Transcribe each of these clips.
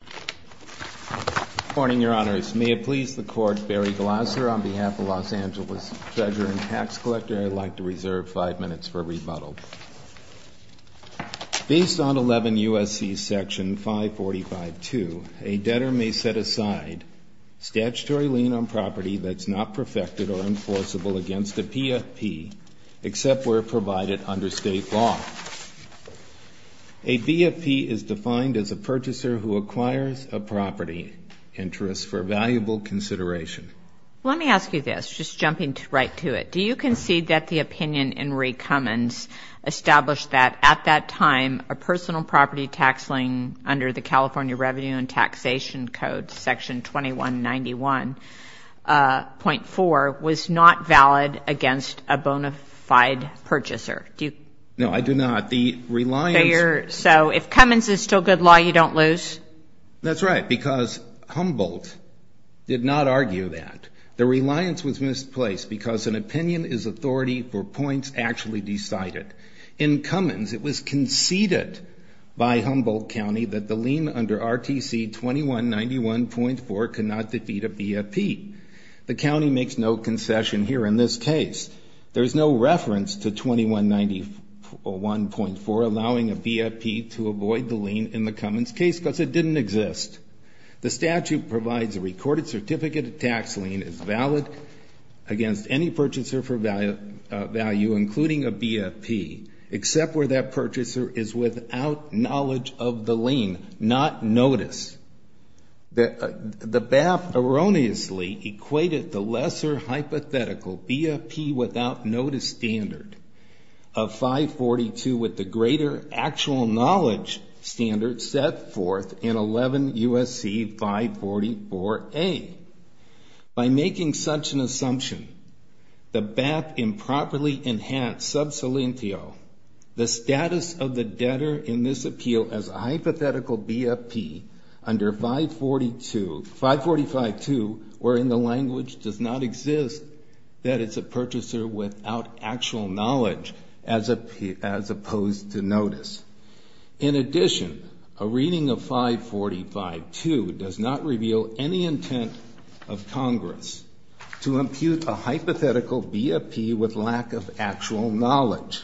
Good morning, Your Honors. May it please the Court, Barry Glasser, on behalf of Los Angeles Treasurer and Tax Collector, I'd like to reserve five minutes for rebuttal. Based on 11 U.S.C. Section 545.2, a debtor may set aside statutory lien on property that's not perfected or enforceable against a PFP, except where provided under state law. A BFP is defined as a purchaser who acquires a property interest for valuable consideration. Let me ask you this, just jumping right to it. Do you concede that the opinion in Ree Cummins established that, at that time, a personal property tax lien under the California Revenue and Taxation Code, Section 2191.4, was not valid against a bona fide purchaser? No, I do not. The reliance... So, if Cummins is still good law, you don't lose? That's right, because Humboldt did not argue that. The reliance was misplaced because an opinion is authority for points actually decided. In Cummins, it was conceded by Humboldt County that the lien under RTC 2191.4 could not defeat a BFP. The county makes no concession here in this case. There is no reference to 2191.4 allowing a BFP to avoid the lien in the Cummins case because it didn't exist. The statute provides a recorded certificate of tax lien is valid against any purchaser for value, including a BFP, except where that purchaser is without knowledge of the lien, not notice. The BAP erroneously equated the lesser hypothetical BFP without notice standard of 542 with the greater actual knowledge standard set forth in 11 U.S.C. 544A. By making such an assumption, the BAP improperly enhanced sub solentio, the status of the debtor in this appeal as a hypothetical BFP under 542... 545.2, wherein the language does not exist, that it's a purchaser without actual knowledge as opposed to notice. In addition, a reading of 545.2 does not reveal any intent of Congress to impute a hypothetical BFP with lack of actual knowledge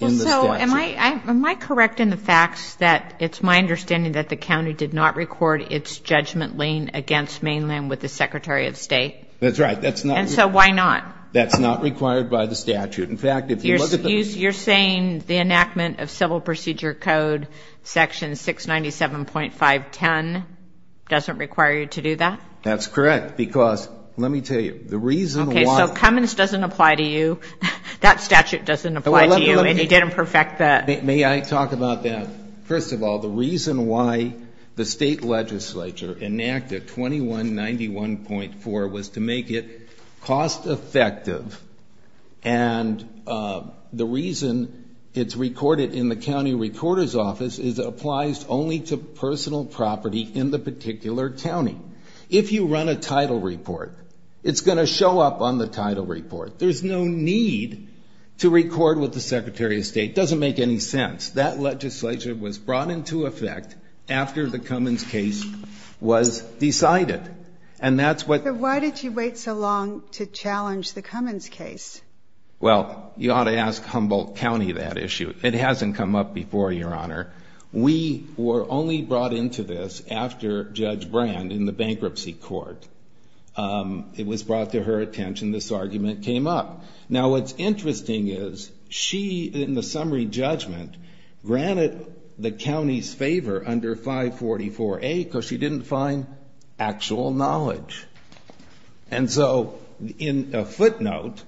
in the statute. Am I correct in the facts that it's my understanding that the county did not record its judgment lien against Mainland with the Secretary of State? That's right. And so why not? That's not required by the statute. In fact, if you look at the... You're saying the enactment of Civil Procedure Code section 697.510 doesn't require you to do that? That's correct, because let me tell you, the reason why... Okay, so Cummins doesn't apply to you, that statute doesn't apply to you, and he didn't perfect the... And the reason it's recorded in the county recorder's office is it applies only to personal property in the particular county. If you run a title report, it's going to show up on the title report. There's no need to record with the Secretary of State. It doesn't make any sense. That legislature was brought into effect after the Cummins case was decided, and that's what... But why did you wait so long to challenge the Cummins case? Well, you ought to ask Humboldt County that issue. It hasn't come up before, Your Honor. We were only brought into this after Judge Brand in the bankruptcy court. It was brought to her attention, this argument came up. Now, what's interesting is she, in the summary judgment, granted the county's favor under 544A because she didn't find actual knowledge. And so in a footnote,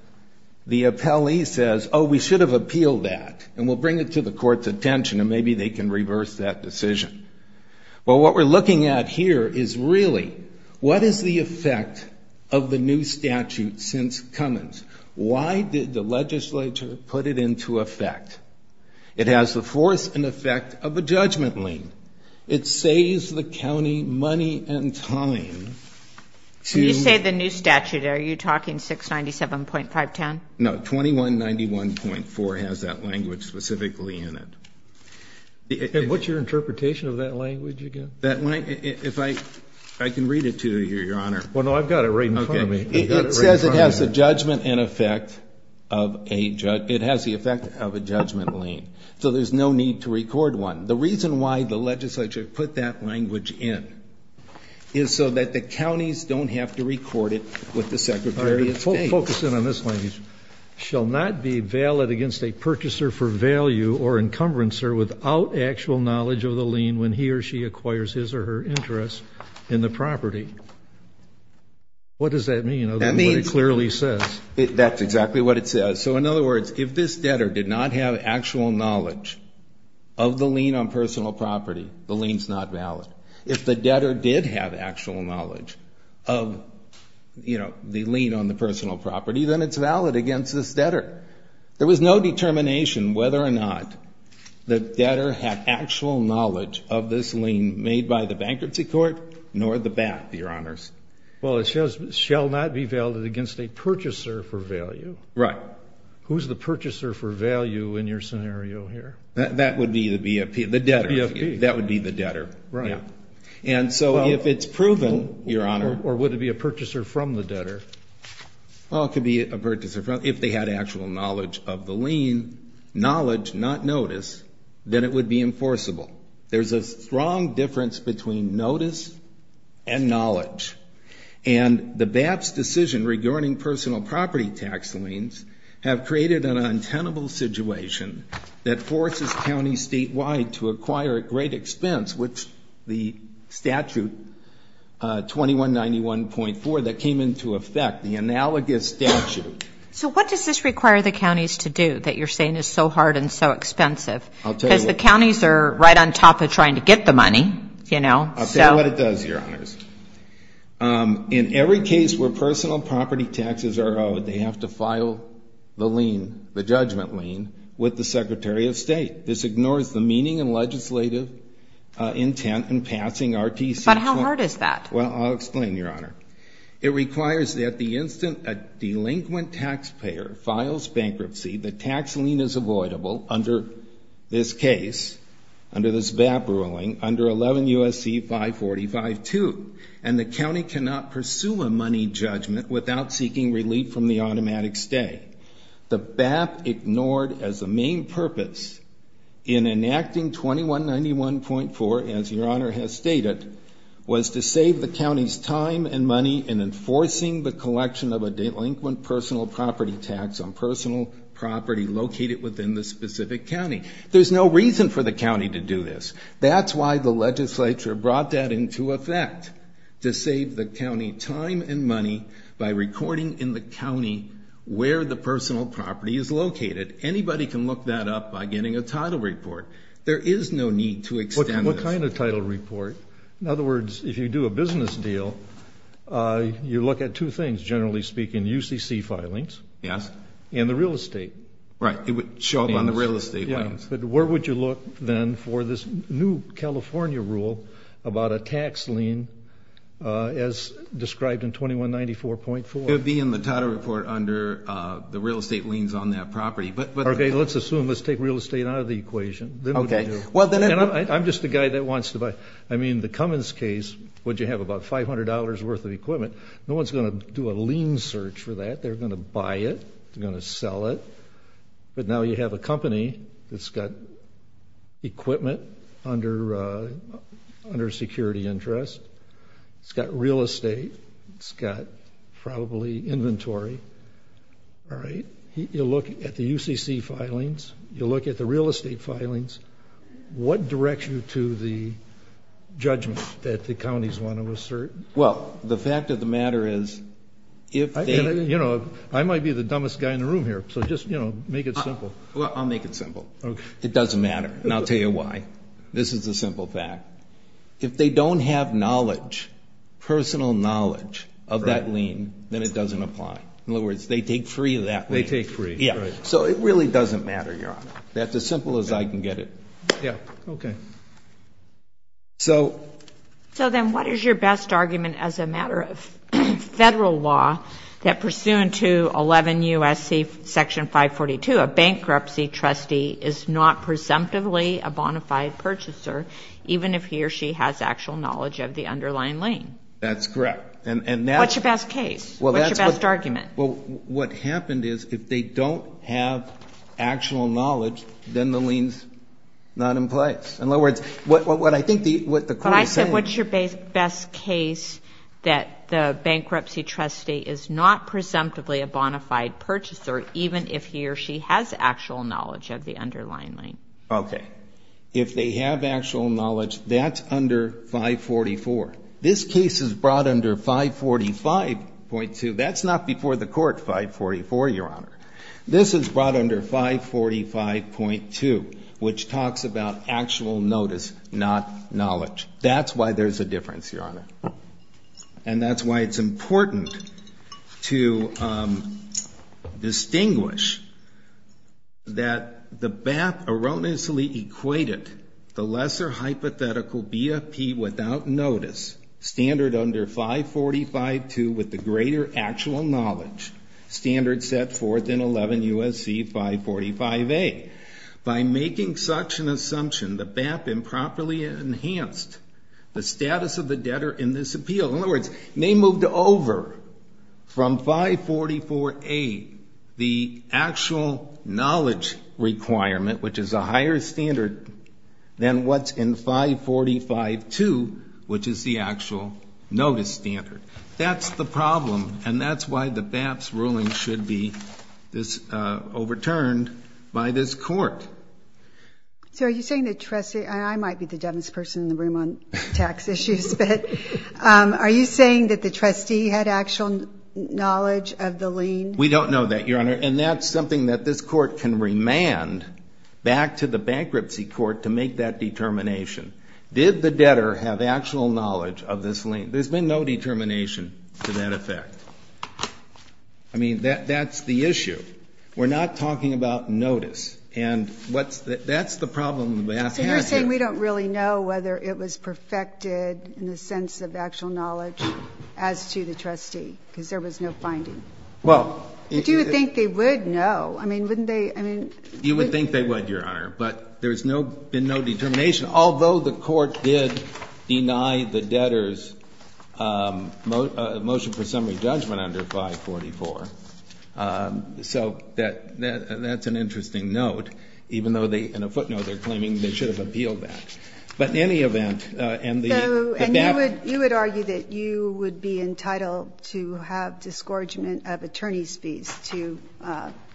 the appellee says, oh, we should have appealed that, and we'll bring it to the court's attention, and maybe they can reverse that decision. Well, what we're looking at here is really what is the effect of the new statute since Cummins? Why did the legislature put it into effect? It has the force and effect of a judgment lien. It saves the county money and time to... When you say the new statute, are you talking 697.510? No, 2191.4 has that language specifically in it. And what's your interpretation of that language again? If I can read it to you here, Your Honor. Well, no, I've got it right in front of me. It says it has the judgment and effect of a judgment lien. So there's no need to record one. The reason why the legislature put that language in is so that the counties don't have to record it with the Secretary of State. All right, focus in on this language. Shall not be valid against a purchaser for value or encumbrancer without actual knowledge of the lien when he or she acquires his or her interest in the property. What does that mean? That means... That's what it clearly says. That's exactly what it says. So, in other words, if this debtor did not have actual knowledge of the lien on personal property, the lien's not valid. If the debtor did have actual knowledge of, you know, the lien on the personal property, then it's valid against this debtor. There was no determination whether or not the debtor had actual knowledge of this lien made by the bankruptcy court nor the bank, Your Honors. Well, it says shall not be valid against a purchaser for value. Right. Who's the purchaser for value in your scenario here? That would be the debtor. That would be the debtor. Right. And so if it's proven, Your Honor... Or would it be a purchaser from the debtor? Well, it could be a purchaser from... If they had actual knowledge of the lien, knowledge, not notice, then it would be enforceable. There's a strong difference between notice and knowledge. And the BAPT's decision regarding personal property tax liens have created an untenable situation that forces counties statewide to acquire at great expense, which the statute 2191.4 that came into effect, the analogous statute... So what does this require the counties to do that you're saying is so hard and so expensive? I'll tell you what... Because the counties are right on top of trying to get the money, you know, so... This is what it does, Your Honors. In every case where personal property taxes are owed, they have to file the lien, the judgment lien, with the Secretary of State. This ignores the meaning and legislative intent in passing RTC... But how hard is that? Well, I'll explain, Your Honor. It requires that the instant a delinquent taxpayer files bankruptcy, the tax lien is avoidable under this case, under this BAPT ruling, under 11 U.S.C. 545-2. And the county cannot pursue a money judgment without seeking relief from the automatic stay. The BAPT ignored as a main purpose in enacting 2191.4, as Your Honor has stated, was to save the county's time and money in enforcing the collection of a delinquent personal property tax on personal property located within the specific county. There's no reason for the county to do this. That's why the legislature brought that into effect, to save the county time and money by recording in the county where the personal property is located. Anybody can look that up by getting a title report. There is no need to extend this. What kind of title report? In other words, if you do a business deal, you look at two things, generally speaking, UCC filings... Yes. And the real estate. Right. It would show up on the real estate. But where would you look then for this new California rule about a tax lien as described in 2194.4? It would be in the title report under the real estate liens on that property. Okay. Let's assume, let's take real estate out of the equation. Okay. I'm just the guy that wants to buy. I mean, the Cummins case, would you have about $500 worth of equipment? No one's going to do a lien search for that. They're going to buy it. They're going to sell it. But now you have a company that's got equipment under security interest. It's got real estate. It's got probably inventory. All right. You look at the UCC filings. You look at the real estate filings. What directs you to the judgment that the counties want to assert? Well, the fact of the matter is, if they... You know, I might be the dumbest guy in the room here, so just, you know, make it simple. Well, I'll make it simple. Okay. It doesn't matter. And I'll tell you why. This is a simple fact. If they don't have knowledge, personal knowledge of that lien, then it doesn't apply. In other words, they take free of that lien. They take free. Yeah. So it really doesn't matter, Your Honor. That's as simple as I can get it. Yeah. Okay. So... But here's your best argument as a matter of Federal law that pursuant to 11 U.S.C. Section 542, a bankruptcy trustee is not presumptively a bona fide purchaser, even if he or she has actual knowledge of the underlying lien. That's correct. And that's... What's your best case? What's your best argument? Well, what happened is, if they don't have actual knowledge, then the lien's not in place. In other words, what I think the court is saying... What's your best case that the bankruptcy trustee is not presumptively a bona fide purchaser, even if he or she has actual knowledge of the underlying lien? Okay. If they have actual knowledge, that's under 544. This case is brought under 545.2. That's not before the court, 544, Your Honor. This is brought under 545.2, which talks about actual notice, not knowledge. That's why there's a difference, Your Honor. And that's why it's important to distinguish that the BAP erroneously equated the lesser hypothetical BFP without notice, standard under 545.2 with the greater actual knowledge, standard set forth in 11 U.S.C. 545a. By making such an assumption, the BAP improperly enhanced the status of the debtor in this appeal. In other words, they moved over from 544a, the actual knowledge requirement, which is a higher standard than what's in 545.2, which is the actual notice standard. That's the problem, and that's why the BAP's ruling should be overturned by this court. So are you saying the trustee ‑‑ I might be the dumbest person in the room on tax issues, but are you saying that the trustee had actual knowledge of the lien? We don't know that, Your Honor. And that's something that this court can remand back to the bankruptcy court to make that determination. Did the debtor have actual knowledge of this lien? There's been no determination to that effect. I mean, that's the issue. We're not talking about notice. And that's the problem with the BAP. So you're saying we don't really know whether it was perfected in the sense of actual knowledge as to the trustee, because there was no finding. Well ‑‑ But you would think they would know. I mean, wouldn't they ‑‑ You would think they would, Your Honor. But there's been no determination, although the court did deny the debtor's motion for summary judgment under 544. So that's an interesting note, even though in a footnote they're claiming they should have appealed that. But in any event, and the BAP ‑‑ So you would argue that you would be entitled to have disgorgement of attorney's fees to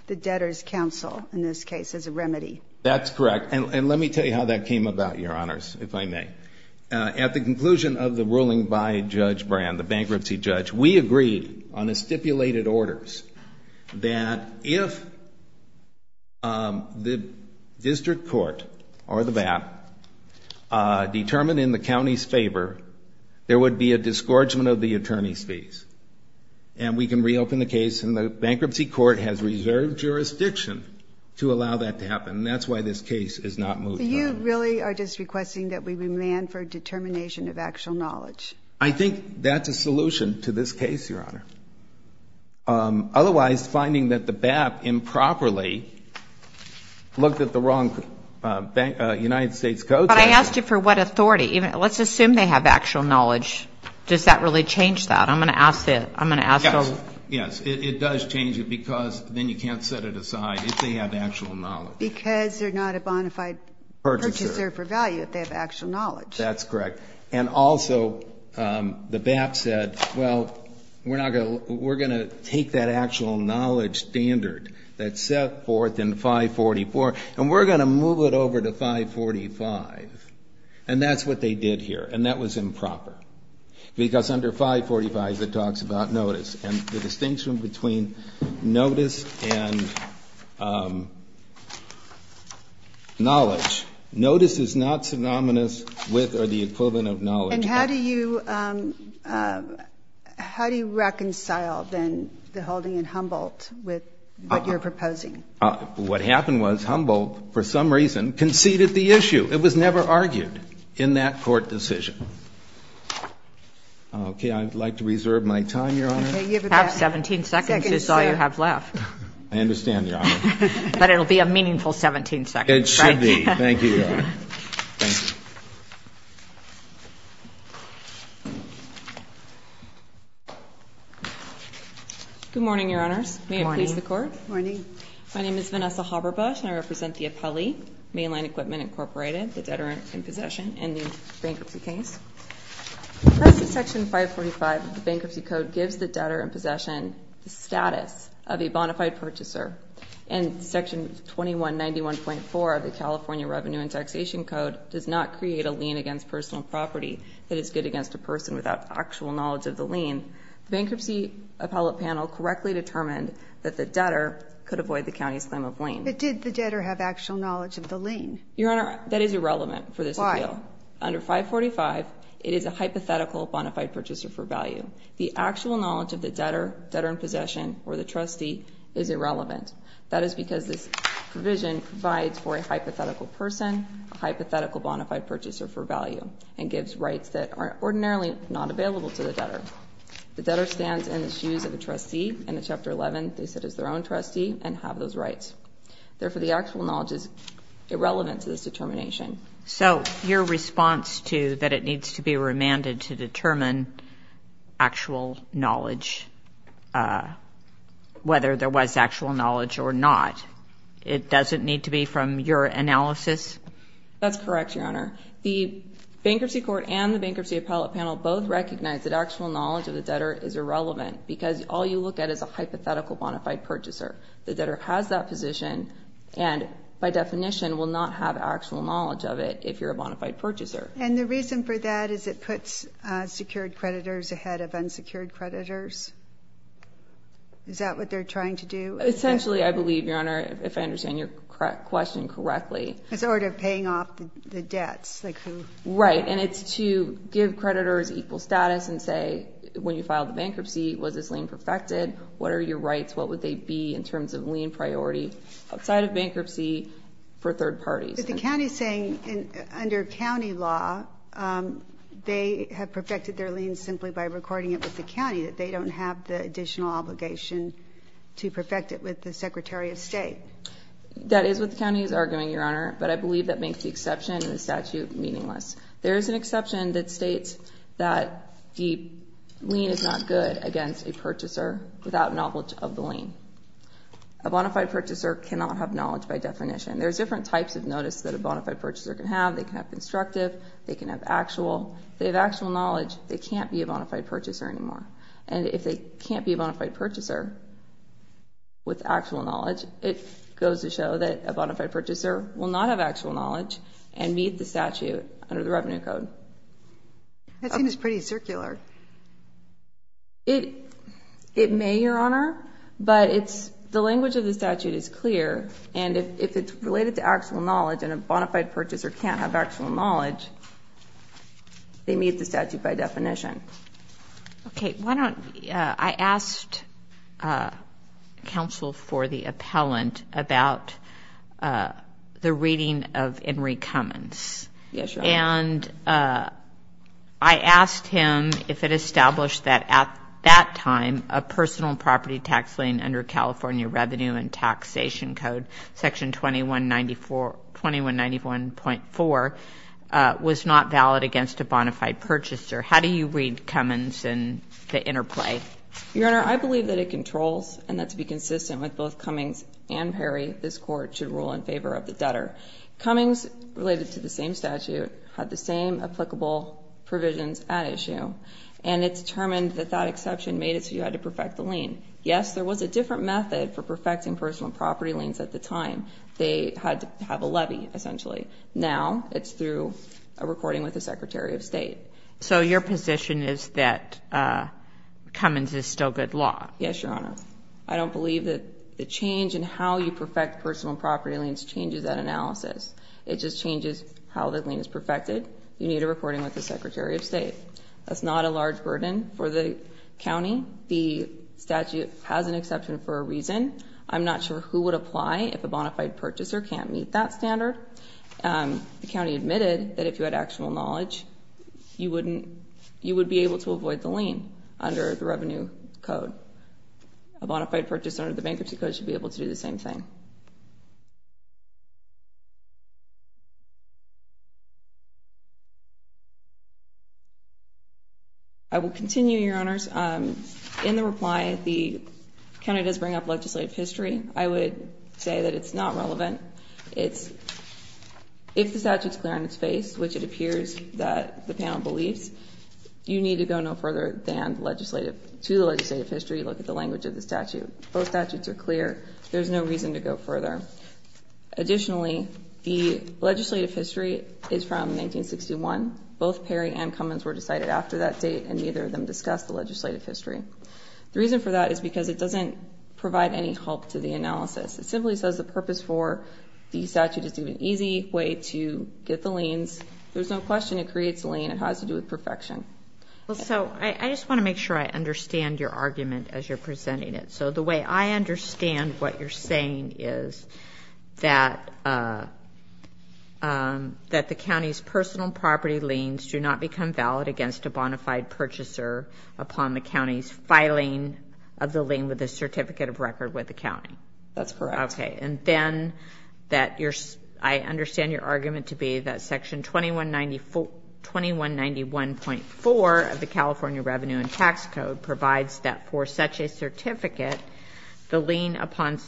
the debtor's counsel in this case as a remedy. That's correct. And let me tell you how that came about, Your Honors, if I may. At the conclusion of the ruling by Judge Brand, the bankruptcy judge, we agreed on the stipulated orders that if the district court or the BAP determined in the county's favor, there would be a disgorgement of the attorney's fees. And we can reopen the case. And the bankruptcy court has reserved jurisdiction to allow that to happen. And that's why this case is not moved. So you really are just requesting that we demand for determination of actual knowledge? I think that's a solution to this case, Your Honor. Otherwise, finding that the BAP improperly looked at the wrong United States code ‑‑ But I asked you for what authority. Let's assume they have actual knowledge. Does that really change that? I'm going to ask them. Yes. Yes. It does change it because then you can't set it aside if they have actual knowledge. Because they're not a bona fide purchaser for value if they have actual knowledge. That's correct. And also, the BAP said, well, we're going to take that actual knowledge standard that's set forth in 544, and we're going to move it over to 545. And that's what they did here. And that was improper. Because under 545, it talks about notice. And the distinction between notice and knowledge, notice is not synonymous with or the equivalent of knowledge. And how do you reconcile then the holding in Humboldt with what you're proposing? What happened was Humboldt for some reason conceded the issue. It was never argued in that court decision. Okay. I'd like to reserve my time, Your Honor. You have 17 seconds. That's all you have left. I understand, Your Honor. But it will be a meaningful 17 seconds. It should be. Thank you, Your Honor. Thank you. Good morning, Your Honors. Good morning. May it please the Court. Good morning. My name is Vanessa Haberbusch, and I represent the Appellee Mainline Equipment Incorporated, the debtor in possession, and the bankruptcy case. Section 545 of the Bankruptcy Code gives the debtor in possession the status of a bonafide purchaser. And Section 2191.4 of the California Revenue and Taxation Code does not create a lien against personal property that is good against a person without actual knowledge of the lien. The bankruptcy appellate panel correctly determined that the debtor could avoid the county's claim of lien. But did the debtor have actual knowledge of the lien? Your Honor, that is irrelevant for this appeal. Why? Under 545, it is a hypothetical bonafide purchaser for value. The actual knowledge of the debtor, debtor in possession, or the trustee is irrelevant. That is because this provision provides for a hypothetical person, a hypothetical bonafide purchaser for value, and gives rights that are ordinarily not available to the debtor. The debtor stands in the shoes of a trustee. In Chapter 11, they sit as their own trustee and have those rights. Therefore, the actual knowledge is irrelevant to this determination. So your response to that it needs to be remanded to determine actual knowledge, whether there was actual knowledge or not, it doesn't need to be from your analysis? That's correct, Your Honor. The bankruptcy court and the bankruptcy appellate panel both recognize that actual knowledge of the debtor is irrelevant because all you look at is a hypothetical bonafide purchaser. The debtor has that position and, by definition, will not have actual knowledge of it if you're a bonafide purchaser. And the reason for that is it puts secured creditors ahead of unsecured creditors? Is that what they're trying to do? Essentially, I believe, Your Honor, if I understand your question correctly. It's in order of paying off the debts. Right. And it's to give creditors equal status and say, when you file the bankruptcy, was this lien perfected? What are your rights? What would they be in terms of lien priority outside of bankruptcy for third parties? But the county is saying, under county law, they have perfected their lien simply by recording it with the county, that they don't have the additional obligation to perfect it with the Secretary of State. That is what the county is arguing, Your Honor. But I believe that makes the exception in the statute meaningless. There is an exception that states that the lien is not good against a purchaser without knowledge of the lien. A bonafide purchaser cannot have knowledge by definition. There's different types of notice that a bonafide purchaser can have. They can have constructive. They can have actual. If they have actual knowledge, they can't be a bonafide purchaser anymore. And if they can't be a bonafide purchaser with actual knowledge, it goes to show that a bonafide purchaser will not have actual knowledge and meet the statute under the Revenue Code. That seems pretty circular. It may, Your Honor, but the language of the statute is clear. And if it's related to actual knowledge and a bonafide purchaser can't have actual knowledge, they meet the statute by definition. Okay. Why don't I ask counsel for the appellant about the reading of Henry Cummins. Yes, Your Honor. And I asked him if it established that at that time, a personal property tax lien under California Revenue and Taxation Code, Section 2191.4, was not valid against a bonafide purchaser. How do you read Cummins and the interplay? Your Honor, I believe that it controls and that to be consistent with both Cummings and Perry, this Court should rule in favor of the debtor. Cummings, related to the same statute, had the same applicable provisions at issue, and it's determined that that exception made it so you had to perfect the lien. Yes, there was a different method for perfecting personal property liens at the time. They had to have a levy, essentially. Now it's through a recording with the Secretary of State. So your position is that Cummins is still good law? Yes, Your Honor. I don't believe that the change in how you perfect personal property liens changes that analysis. It just changes how the lien is perfected. You need a recording with the Secretary of State. That's not a large burden for the county. The statute has an exception for a reason. I'm not sure who would apply if a bonafide purchaser can't meet that standard. The county admitted that if you had actual knowledge, you would be able to avoid the lien under the Revenue Code. A bonafide purchaser under the Bankruptcy Code should be able to do the same thing. I will continue, Your Honors. In the reply, the county does bring up legislative history. I would say that it's not relevant. If the statute is clear on its face, which it appears that the panel believes, you need to go no further to the legislative history, look at the language of the statute. Both statutes are clear. There's no reason to go further. Additionally, the legislative history is from 1961. Both Perry and Cummins were decided after that date, and neither of them discussed the legislative history. The reason for that is because it doesn't provide any help to the analysis. It simply says the purpose for the statute is to be an easy way to get the liens. There's no question it creates a lien. It has to do with perfection. I just want to make sure I understand your argument as you're presenting it. The way I understand what you're saying is that the county's personal property liens do not become valid against a bonafide purchaser upon the county's filing of the lien with a certificate of record with the county. That's correct. Okay, and then I understand your argument to be that Section 2191.4 of the California Revenue and Tax Code provides that for such a certificate, the lien upon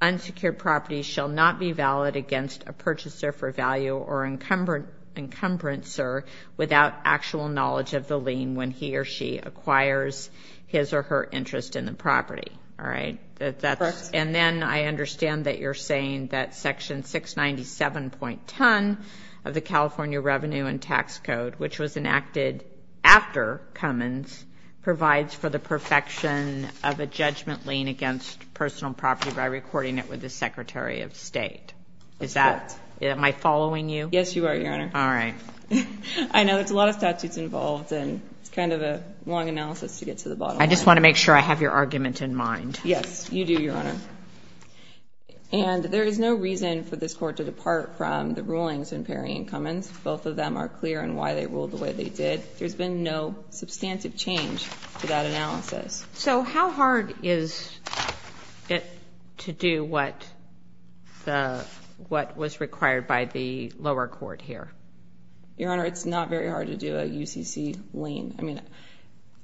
unsecured property shall not be valid against a purchaser for value or encumbrancer without actual knowledge of the lien when he or she acquires his And then I understand that you're saying that Section 697.10 of the California Revenue and Tax Code, which was enacted after Cummins, provides for the perfection of a judgment lien against personal property by recording it with the Secretary of State. That's correct. Am I following you? Yes, you are, Your Honor. All right. I know there's a lot of statutes involved, and it's kind of a long analysis to get to the bottom of it. I just want to make sure I have your argument in mind. Yes, you do, Your Honor. And there is no reason for this Court to depart from the rulings in Perry v. Cummins. Both of them are clear in why they ruled the way they did. There's been no substantive change to that analysis. So how hard is it to do what was required by the lower court here? Your Honor, it's not very hard to do a UCC lien. I mean,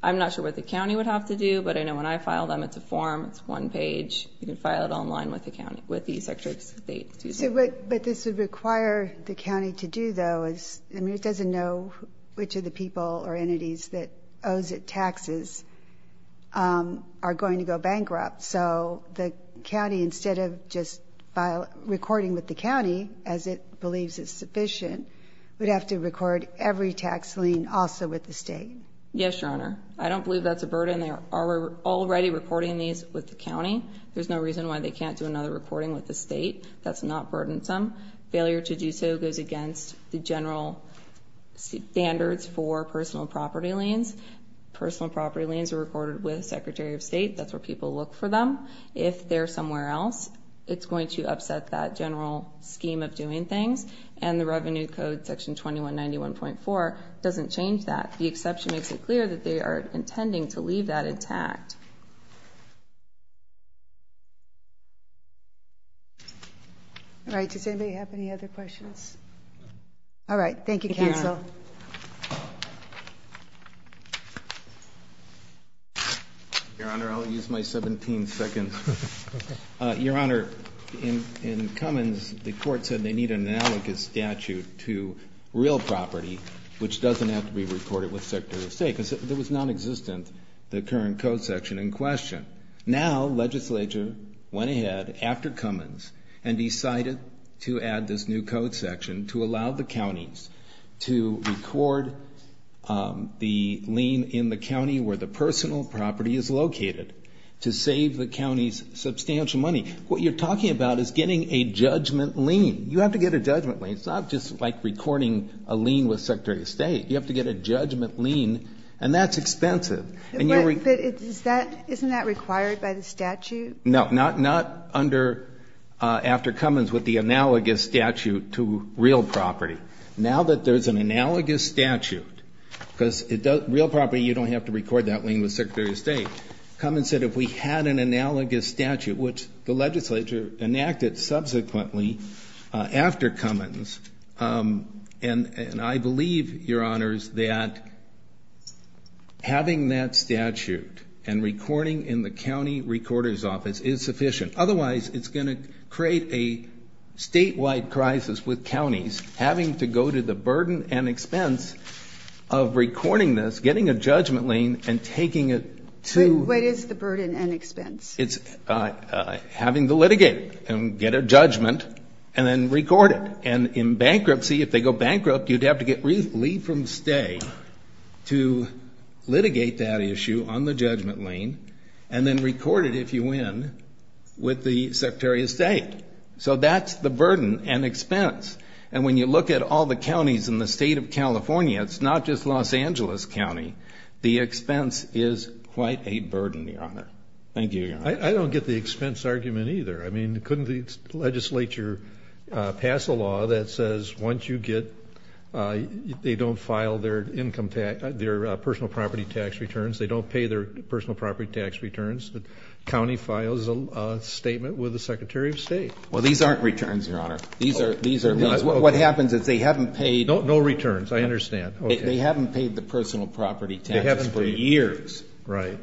I'm not sure what the county would have to do, but I know when I file them, it's a form, it's one page. You can file it online with the Secretary of State. But this would require the county to do those. I mean, it doesn't know which of the people or entities that owes it taxes are going to go bankrupt. So the county, instead of just recording with the county, as it believes is sufficient, would have to record every tax lien also with the state. Yes, Your Honor. I don't believe that's a burden. They are already recording these with the county. There's no reason why they can't do another recording with the state. That's not burdensome. Failure to do so goes against the general standards for personal property liens. Personal property liens are recorded with the Secretary of State. That's where people look for them. If they're somewhere else, it's going to upset that general scheme of doing things. And the Revenue Code, Section 2191.4, doesn't change that. The exception makes it clear that they are intending to leave that intact. All right. Does anybody have any other questions? All right. Thank you, counsel. Your Honor, I'll use my 17 seconds. Your Honor, in Cummins, the court said they need an analogous statute to real property, which doesn't have to be recorded with the Secretary of State, because it was nonexistent, the current code section in question. Now, legislature went ahead, after Cummins, and decided to add this new code section to allow the counties to record the lien in the county where the personal property is located to save the counties substantial money. What you're talking about is getting a judgment lien. You have to get a judgment lien. It's not just like recording a lien with Secretary of State. You have to get a judgment lien, and that's expensive. But isn't that required by the statute? No, not under, after Cummins, with the analogous statute to real property. Now that there's an analogous statute, because real property, you don't have to record that lien with Secretary of State. Cummins said if we had an analogous statute, which the legislature enacted subsequently after Cummins, and I believe, Your Honors, that having that statute and recording in the county recorder's office is sufficient. Otherwise, it's going to create a statewide crisis with counties having to go to the burden and expense of recording this, getting a judgment lien, and taking it to the county. What is the burden and expense? It's having to litigate and get a judgment and then record it. And in bankruptcy, if they go bankrupt, you'd have to get leave from stay to litigate that issue on the judgment lien and then record it, if you win, with the Secretary of State. So that's the burden and expense. And when you look at all the counties in the state of California, it's not just Los Angeles County, the expense is quite a burden, Your Honor. Thank you, Your Honor. I don't get the expense argument either. I mean, couldn't the legislature pass a law that says once you get, they don't file their personal property tax returns, they don't pay their personal property tax returns, the county files a statement with the Secretary of State? Well, these aren't returns, Your Honor. What happens is they haven't paid. No returns, I understand. They haven't paid the personal property tax for years. Right.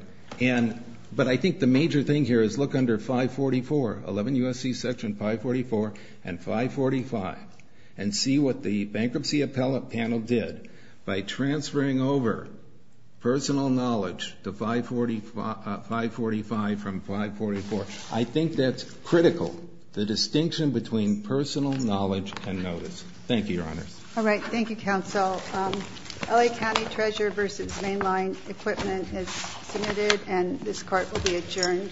But I think the major thing here is look under 544, 11 U.S.C. Section 544 and 545, and see what the bankruptcy appellate panel did by transferring over personal knowledge to 545 from 544. I think that's critical, the distinction between personal knowledge and notice. Thank you, Your Honor. All right. Thank you, Counsel. LA County Treasurer v. Mainline Equipment is submitted, and this Court will be adjourned for this session.